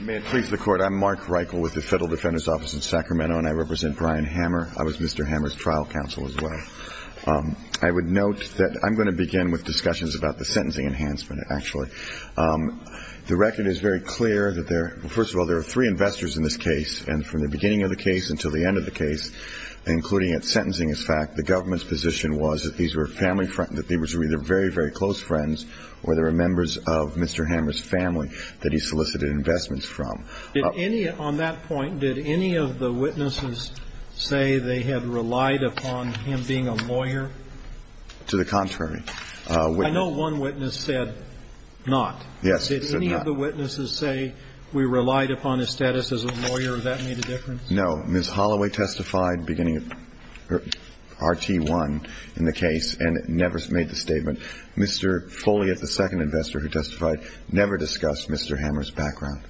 May it please the court I'm Mark Reichel with the Federal Defender's Office in Sacramento and I represent Brian Hammer. I was Mr. Hammer's trial counsel as well. I would note that I'm going to begin with discussions about the sentencing enhancement actually. The record is very clear that there are first of all three investors in this case and from the beginning of the case until the end of the case, including at sentencing as fact, the government's position was that these were family friends, that they were either very, very close friends or they were members of Mr. Hammer's family that he solicited investments from. On that point, did any of the witnesses say they had relied upon him being a lawyer? To the contrary. I know one witness said not. Yes, he said not. Did any of the witnesses say we relied upon his status as a lawyer, that made a difference? No. Ms. Holloway testified beginning of RT1 in the case and never made the statement. Mr. Foley is the second investor who testified, never discussed Mr. Hammer's background.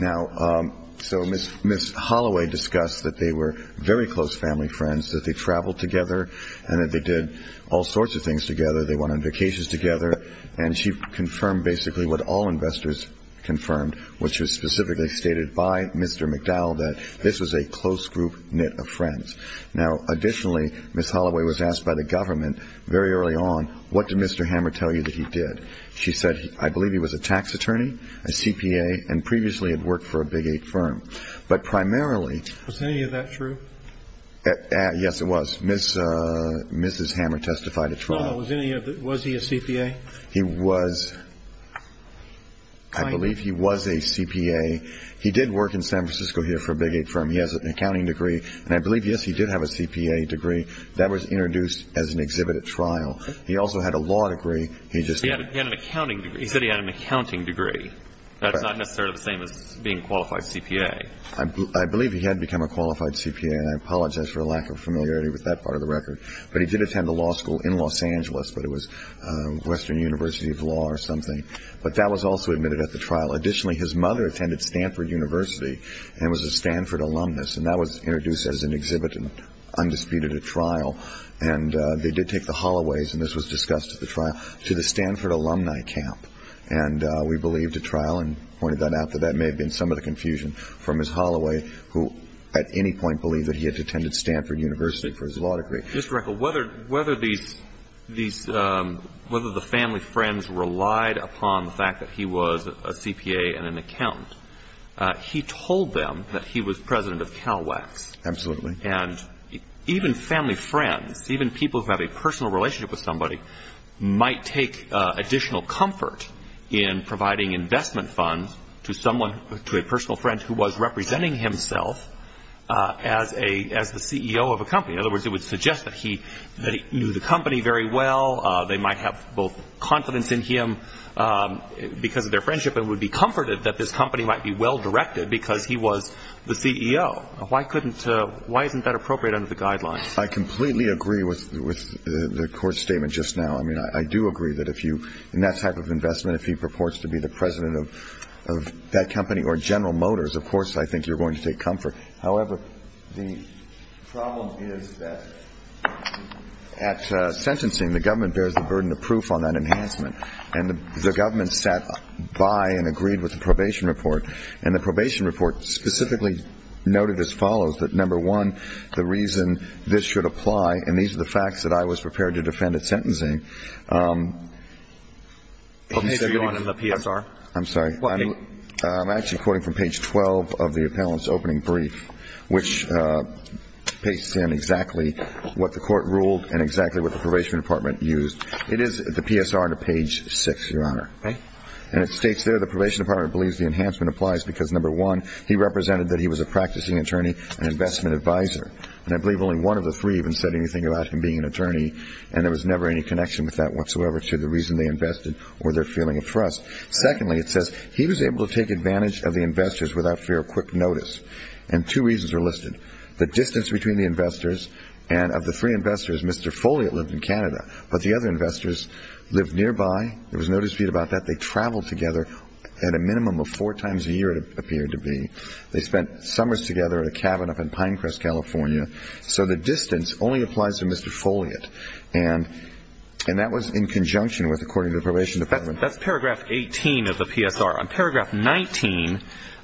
Now, so Ms. Holloway discussed that they were very close family friends, that they traveled together and that they did all sorts of things together. They went on vacations together and she confirmed basically what all investors confirmed, which was specifically stated by Mr. McDowell that this was a close group knit of friends. Now, additionally, Ms. Holloway was asked by the government very early on, what did Mr. Hammer tell you that he did? She said, I believe he was a tax attorney, a CPA, and previously had worked for a big eight firm. But primarily – Was any of that true? Yes, it was. Mrs. Hammer testified at trial. Was he a CPA? He was. I believe he was a CPA. He did work in San Francisco here for a big eight firm. He has an accounting degree. And I believe, yes, he did have a CPA degree. That was introduced as an exhibit at trial. He also had a law degree. He just – He had an accounting degree. He said he had an accounting degree. That's not necessarily the same as being a qualified CPA. I believe he had become a qualified CPA, and I apologize for a lack of familiarity with that part of the record. But he did attend a law school in Los Angeles, but it was Western University of Law or something. But that was also admitted at the trial. Additionally, his mother attended Stanford University and was a Stanford alumnus, and that was introduced as an exhibit and undisputed at trial. And they did take the Holloways, and this was discussed at the trial, to the Stanford alumni camp. And we believed at trial and pointed that out that that may have been some of the confusion for Ms. Holloway, who at any point believed that he had attended Stanford University for his law degree. Mr. Reckle, whether the family friends relied upon the fact that he was a CPA and an accountant, he told them that he was president of CalWax. Absolutely. And even family friends, even people who have a personal relationship with somebody, might take additional comfort in providing investment funds to someone, to a personal friend, who was representing himself as the CEO of a company. In other words, it would suggest that he knew the company very well. They might have both confidence in him because of their friendship and would be comforted that this company might be well-directed because he was the CEO. Why isn't that appropriate under the guidelines? I completely agree with the court statement just now. I mean, I do agree that in that type of investment, if he purports to be the president of that company or General Motors, of course I think you're going to take comfort. However, the problem is that at sentencing, the government bears the burden of proof on that enhancement. And the government sat by and agreed with the probation report. And the probation report specifically noted as follows that, number one, the reason this should apply, and these are the facts that I was prepared to defend at sentencing. What page are you on in the PSR? I'm sorry. What page? I'm actually quoting from page 12 of the appellant's opening brief, which pastes in exactly what the court ruled and exactly what the probation department used. It is the PSR to page 6, Your Honor. And it states there the probation department believes the enhancement applies because, number one, he represented that he was a practicing attorney and investment advisor. And I believe only one of the three even said anything about him being an attorney, and there was never any connection with that whatsoever to the reason they invested or their feeling of trust. Secondly, it says he was able to take advantage of the investors without fear of quick notice. And two reasons are listed. The distance between the investors, and of the three investors, Mr. Folliott lived in Canada, but the other investors lived nearby. There was no dispute about that. They traveled together at a minimum of four times a year, it appeared to be. They spent summers together in a cabin up in Pinecrest, California. So the distance only applies to Mr. Folliott. And that was in conjunction with, according to the probation department. That's paragraph 18 of the PSR. On paragraph 19,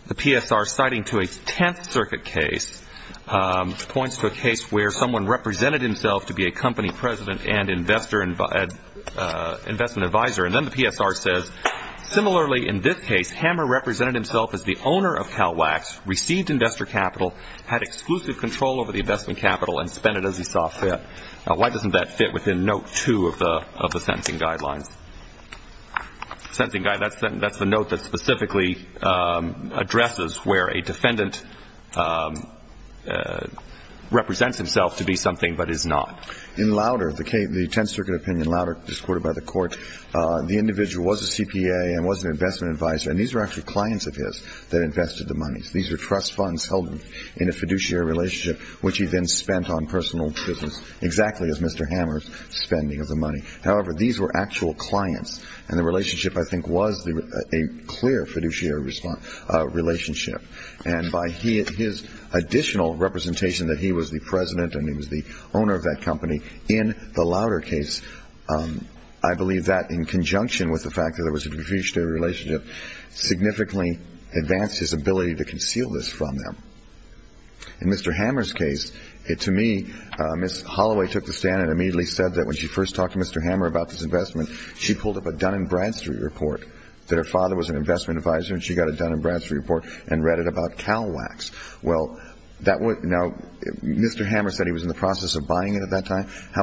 the PSR, citing to a Tenth Circuit case, points to a case where someone represented himself to be a company president and investment advisor. And then the PSR says, similarly in this case, Hammer represented himself as the owner of CalWax, received investor capital, had exclusive control over the investment capital, and spent it as he saw fit. Why doesn't that fit within note two of the sentencing guidelines? That's the note that specifically addresses where a defendant represents himself to be something but is not. In Lauder, the Tenth Circuit opinion, Lauder, discorded by the court, the individual was a CPA and was an investment advisor. And these were actually clients of his that invested the money. These were trust funds held in a fiduciary relationship, which he then spent on personal business exactly as Mr. Hammer's spending of the money. However, these were actual clients, and the relationship, I think, was a clear fiduciary relationship. And by his additional representation that he was the president and he was the owner of that company in the Lauder case, I believe that in conjunction with the fact that there was a fiduciary relationship significantly advanced his ability to conceal this from them. In Mr. Hammer's case, to me, Ms. Holloway took the stand and immediately said that when she first talked to Mr. Hammer about this investment, she pulled up a Dun & Bradstreet report that her father was an investment advisor and she got a Dun & Bradstreet report and read it about CalWax. Well, Mr. Hammer said he was in the process of buying it at that time. I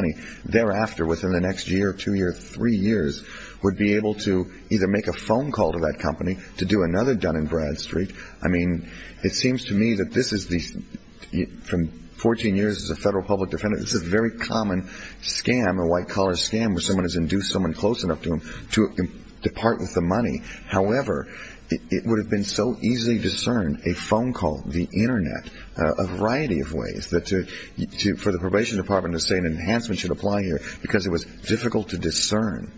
mean, thereafter, within the next year, two years, three years, would be able to either make a phone call to that company to do another Dun & Bradstreet. I mean, it seems to me that this is, from 14 years as a federal public defendant, this is a very common scam, a white-collar scam, where someone has induced someone close enough to them to depart with the money. However, it would have been so easy to discern a phone call, the Internet, a variety of ways, for the probation department to say an enhancement should apply here, because it was difficult to discern.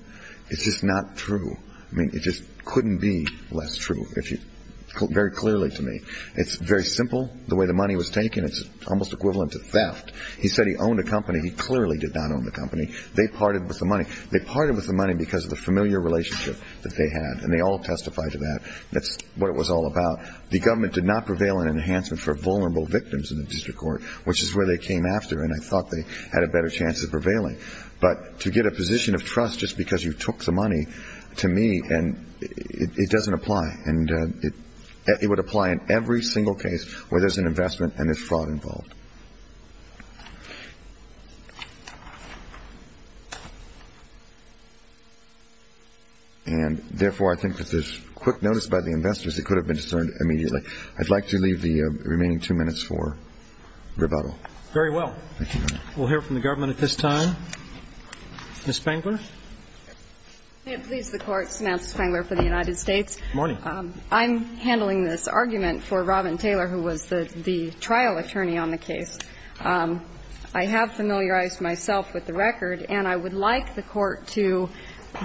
It's just not true. I mean, it just couldn't be less true, very clearly to me. It's very simple, the way the money was taken. It's almost equivalent to theft. He said he owned a company. He clearly did not own the company. They parted with the money. They parted with the money because of the familiar relationship that they had, and they all testified to that. That's what it was all about. The government did not prevail in enhancement for vulnerable victims in the district court, which is where they came after, and I thought they had a better chance of prevailing. But to get a position of trust just because you took the money, to me, it doesn't apply. And it would apply in every single case where there's an investment and there's fraud involved. And, therefore, I think that there's quick notice by the investors that could have been discerned immediately. I'd like to leave the remaining two minutes for rebuttal. Thank you, Your Honor. We'll hear from the government at this time. Ms. Spangler. May it please the Court, Samantha Spangler for the United States. Good morning. Thank you, Mr. Chief Justice. I have been familiarized myself with the record, and I would like the Court to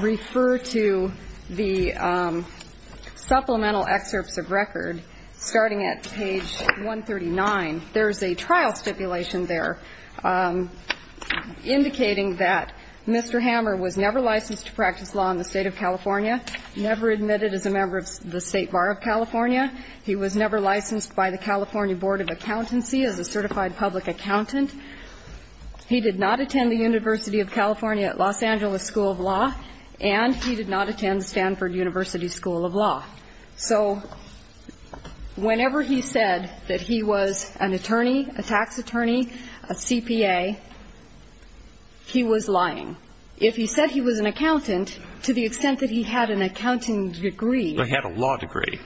refer to the supplemental excerpts of record starting at page 139. There's a trial stipulation there indicating that Mr. Hammer was never licensed to practice law in the State of California, never admitted as a member of the State Bar of California. He was never licensed by the California Board of Accountancy as a certified public accountant. He did not attend the University of California at Los Angeles School of Law, and he did not attend Stanford University School of Law. So whenever he said that he was an attorney, a tax attorney, a CPA, he was lying. If he said he was an accountant, to the extent that he had an accounting degree. He had a law degree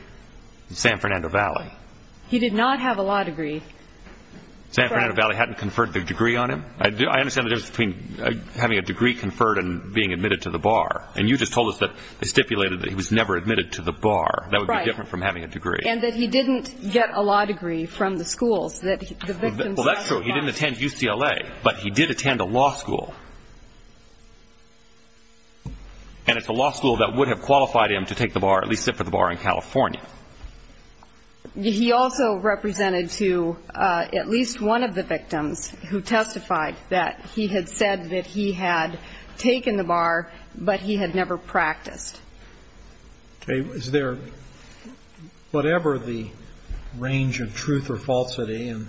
in San Fernando Valley. He did not have a law degree. San Fernando Valley hadn't conferred the degree on him. I understand the difference between having a degree conferred and being admitted to the bar. And you just told us that they stipulated that he was never admitted to the bar. That would be different from having a degree. And that he didn't get a law degree from the schools. Well, that's true. He didn't attend UCLA, but he did attend a law school. And it's a law school that would have qualified him to take the bar, at least sit for the bar in California. He also represented to at least one of the victims who testified that he had said that he had taken the bar, but he had never practiced. Okay. Is there whatever the range of truth or falsity, and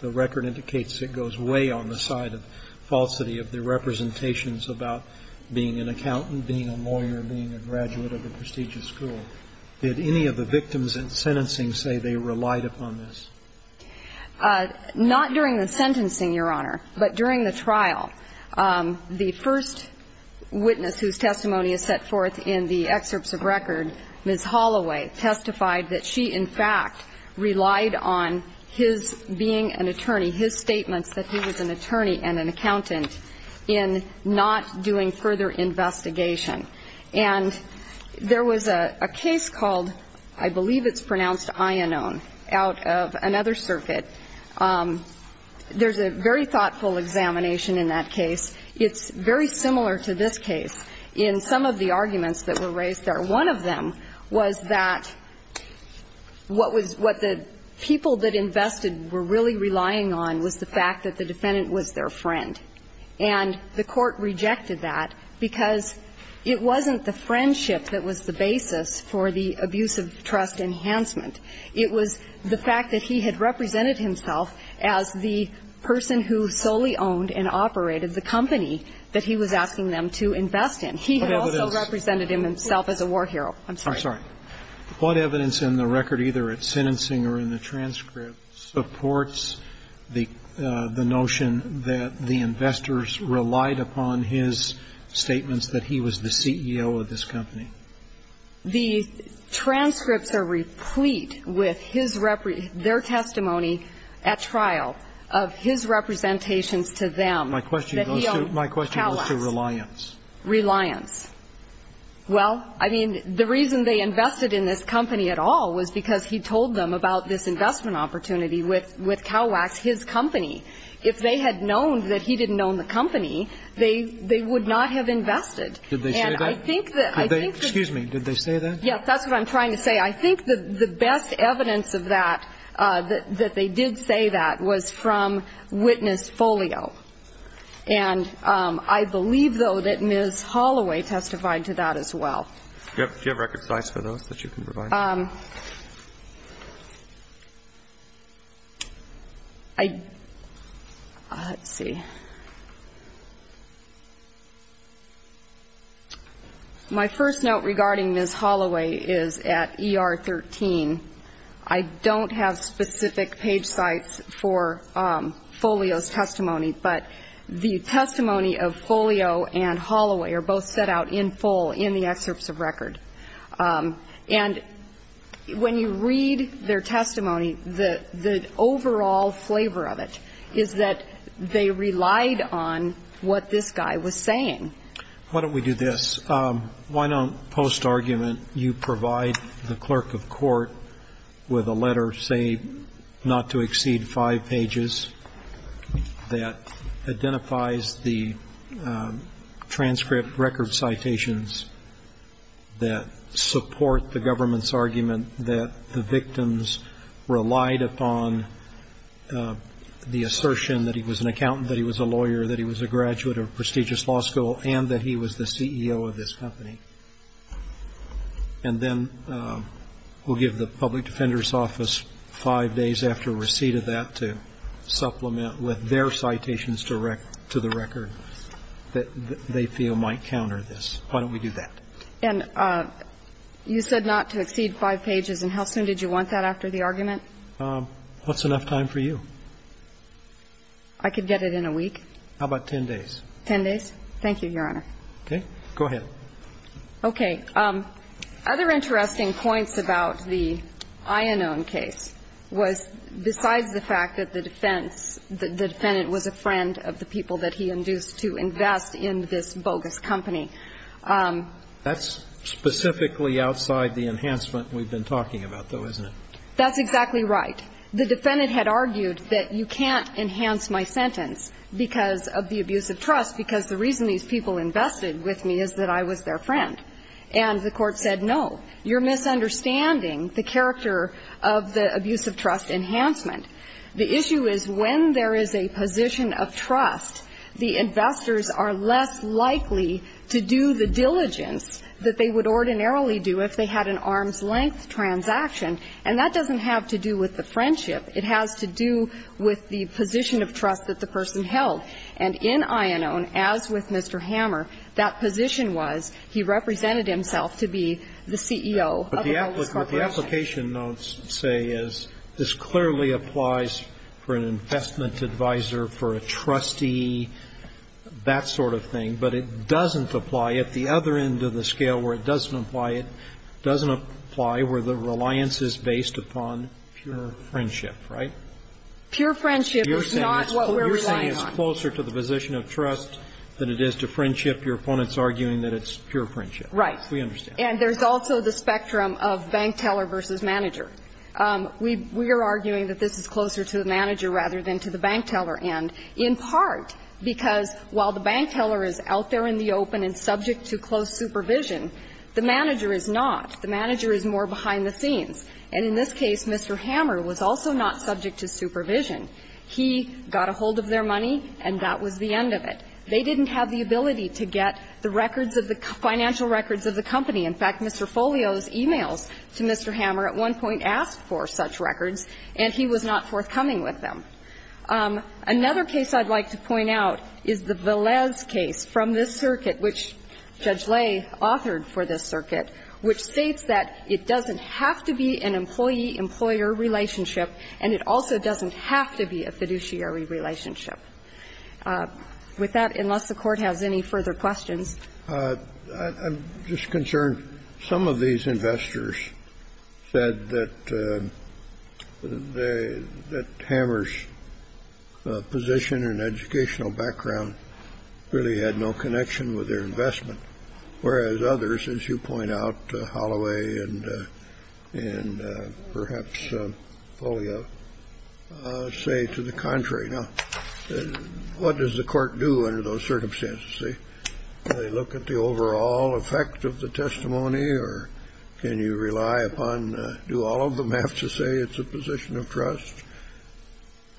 the record indicates it goes way on the side of falsity of the representations about being an accountant, being a lawyer, being a graduate of a prestigious school. Did any of the victims in sentencing say they relied upon this? Not during the sentencing, Your Honor, but during the trial. The first witness whose testimony is set forth in the excerpts of record, Ms. Holloway, testified that she, in fact, relied on his being an attorney, his statements that he was an attorney and an accountant, in not doing further investigation. And there was a case called, I believe it's pronounced Iannone, out of another circuit. There's a very thoughtful examination in that case. It's very similar to this case in some of the arguments that were raised there. One of them was that what was what the people that invested were really relying on was the fact that the defendant was their friend. And the Court rejected that because it wasn't the friendship that was the basis for the abuse of trust enhancement. It was the fact that he had represented himself as the person who solely owned and operated the company that he was asking them to invest in. He had also represented himself as a war hero. I'm sorry. I'm sorry. What evidence in the record, either at sentencing or in the transcript, supports the notion that the investors relied upon his statements that he was the CEO of this company? The transcripts are replete with his their testimony at trial of his representations to them. My question goes to reliance. Reliance. Well, I mean, the reason they invested in this company at all was because he told them about this investment opportunity with Cowax, his company. If they had known that he didn't own the company, they would not have invested. Did they say that? And I think that I think that they Excuse me. Did they say that? Yes, that's what I'm trying to say. I think the best evidence of that, that they did say that, was from witness folio. And I believe, though, that Ms. Holloway testified to that as well. Yep. Do you have record sites for those that you can provide? Let's see. My first note regarding Ms. Holloway is at ER 13. I don't have specific page sites for folio's testimony. But the testimony of folio and Holloway are both set out in full in the excerpts of record. And when you read their testimony, the overall flavor of it is that they relied on what this guy was saying. Why don't we do this? Why don't, post-argument, you provide the clerk of court with a letter, say, not to exceed five pages, that identifies the transcript record citations that support the government's argument that the victims relied upon the assertion that he was an accountant, that he was a lawyer, that he was a graduate of a prestigious law school, and that he was the CEO of this company. And then we'll give the public defender's office, five days after receipt of that, to supplement with their citations to the record that they feel might counter this. Why don't we do that? And you said not to exceed five pages. And how soon did you want that after the argument? What's enough time for you? I could get it in a week. How about ten days? Ten days. Thank you, Your Honor. Okay. Go ahead. Okay. Other interesting points about the Iannone case was, besides the fact that the defense the defendant was a friend of the people that he induced to invest in this bogus company. That's specifically outside the enhancement we've been talking about, though, isn't it? That's exactly right. The defendant had argued that you can't enhance my sentence because of the abuse of trust because the reason these people invested with me is that I was their friend. And the Court said, no, you're misunderstanding the character of the abuse of trust enhancement. The issue is, when there is a position of trust, the investors are less likely to do the diligence that they would ordinarily do if they had an arm's-length transaction. And that doesn't have to do with the friendship. It has to do with the position of trust that the person held. And in Iannone, as with Mr. Hammer, that position was he represented himself to be the CEO of a bogus corporation. But the application notes say is this clearly applies for an investment advisor, for a trustee, that sort of thing. But it doesn't apply at the other end of the scale where it doesn't apply. It doesn't apply where the reliance is based upon pure friendship, right? Pure friendship is not what we're relying on. You're saying it's closer to the position of trust than it is to friendship. Your opponent is arguing that it's pure friendship. Right. We understand. And there's also the spectrum of bank teller versus manager. We are arguing that this is closer to the manager rather than to the bank teller end, in part because while the bank teller is out there in the open and subject to close supervision, the manager is not. The manager is more behind the scenes. And in this case, Mr. Hammer was also not subject to supervision. He got a hold of their money and that was the end of it. They didn't have the ability to get the records of the financial records of the company. In fact, Mr. Folio's e-mails to Mr. Hammer at one point asked for such records and he was not forthcoming with them. Another case I'd like to point out is the Velez case from this circuit, which Judge Lay authored for this circuit, which states that it doesn't have to be an employee-employer relationship and it also doesn't have to be a fiduciary relationship. With that, unless the Court has any further questions. I'm just concerned. Some of these investors said that Hammer's position and educational background really had no connection with their investment, whereas others, as you point out, Holloway and perhaps Folio, say to the contrary. Now, what does the Court do under those circumstances? Do they look at the overall effect of the testimony or can you rely upon, do all of them have to say it's a position of trust?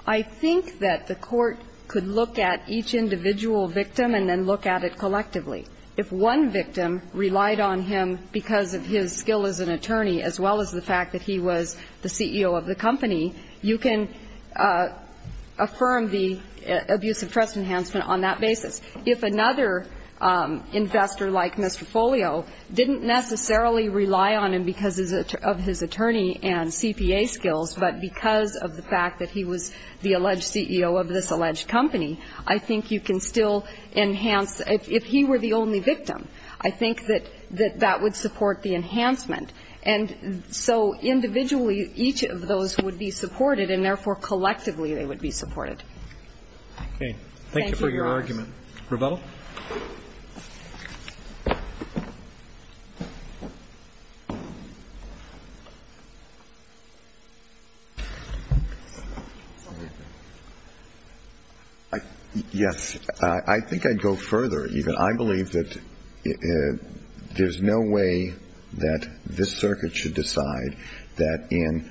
I think that the Court could look at each individual victim and then look at it collectively. If one victim relied on him because of his skill as an attorney as well as the fact that he was the CEO of the company, you can affirm the abuse of trust enhancement on that basis. If another investor like Mr. Folio didn't necessarily rely on him because of his attorney and CPA skills, but because of the fact that he was the alleged CEO of this alleged company, I think you can still enhance. If he were the only victim, I think that that would support the enhancement. And so individually, each of those would be supported, and therefore collectively they would be supported. Thank you, Your Honors. Thank you very much. Thank you. Thank you, Mr. Hedges. Thank you. Roberto. Yes. I think I'd go further. I believe that there's no way that this circuit should decide that in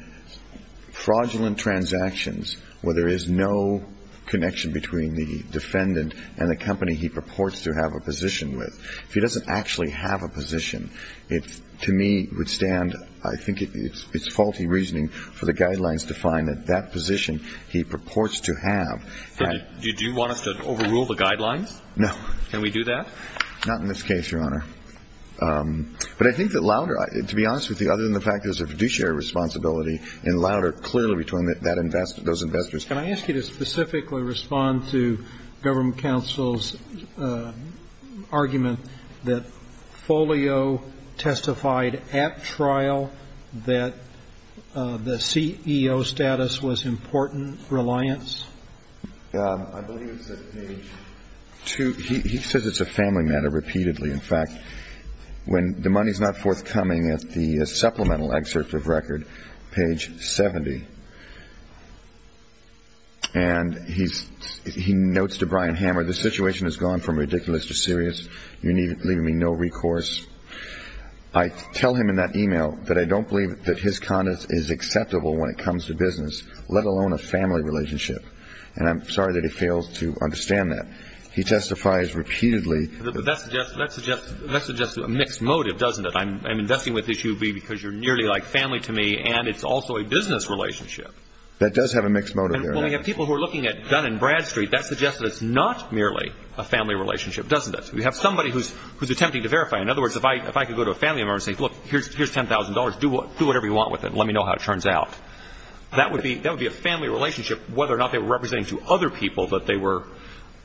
fraudulent transactions where there is no connection between the defendant and the company he purports to have a position with. If he doesn't actually have a position, it, to me, would stand, I think it's faulty reasoning for the guidelines to find that that position he purports to have. Do you want us to overrule the guidelines? No. Can we do that? Not in this case, Your Honor. But I think that Louder, to be honest with you, other than the fact there's a fiduciary responsibility in Louder, clearly between those investors. Can I ask you to specifically respond to Government Counsel's argument that Folio testified at trial that the CEO status was important reliance? I believe it's at page 2. He says it's a family matter repeatedly. In fact, when the money's not forthcoming at the supplemental excerpt of record, page 70, and he notes to Brian Hammer, the situation has gone from ridiculous to serious. You're leaving me no recourse. I tell him in that email that I don't believe that his conduct is acceptable when it comes to business, let alone a family relationship. And I'm sorry that he fails to understand that. He testifies repeatedly. But that suggests a mixed motive, doesn't it? I'm investing with this U.V. because you're nearly like family to me, and it's also a business relationship. That does have a mixed motive there. And when we have people who are looking at Dun & Bradstreet, that suggests that it's not merely a family relationship, doesn't it? We have somebody who's attempting to verify. In other words, if I could go to a family member and say, look, here's $10,000. Do whatever you want with it. Let me know how it turns out. That would be a family relationship, whether or not they were representing to other people that they were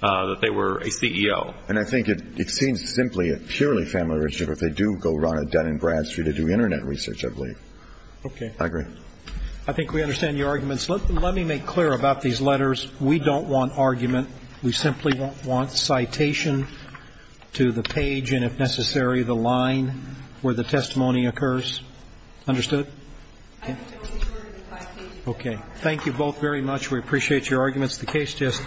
a CEO. And I think it seems simply a purely family relationship if they do go run a Dun & Bradstreet to do Internet research, I believe. Okay. I agree. I think we understand your arguments. Let me make clear about these letters. We don't want argument. We simply won't want citation to the page and, if necessary, the line where the testimony occurs. Understood? Okay. Thank you both very much. We appreciate your arguments. The case just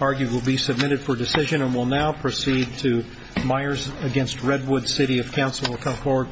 argued will be submitted for decision and will now proceed to Myers v. Redwood City of Council. We'll come forward, please.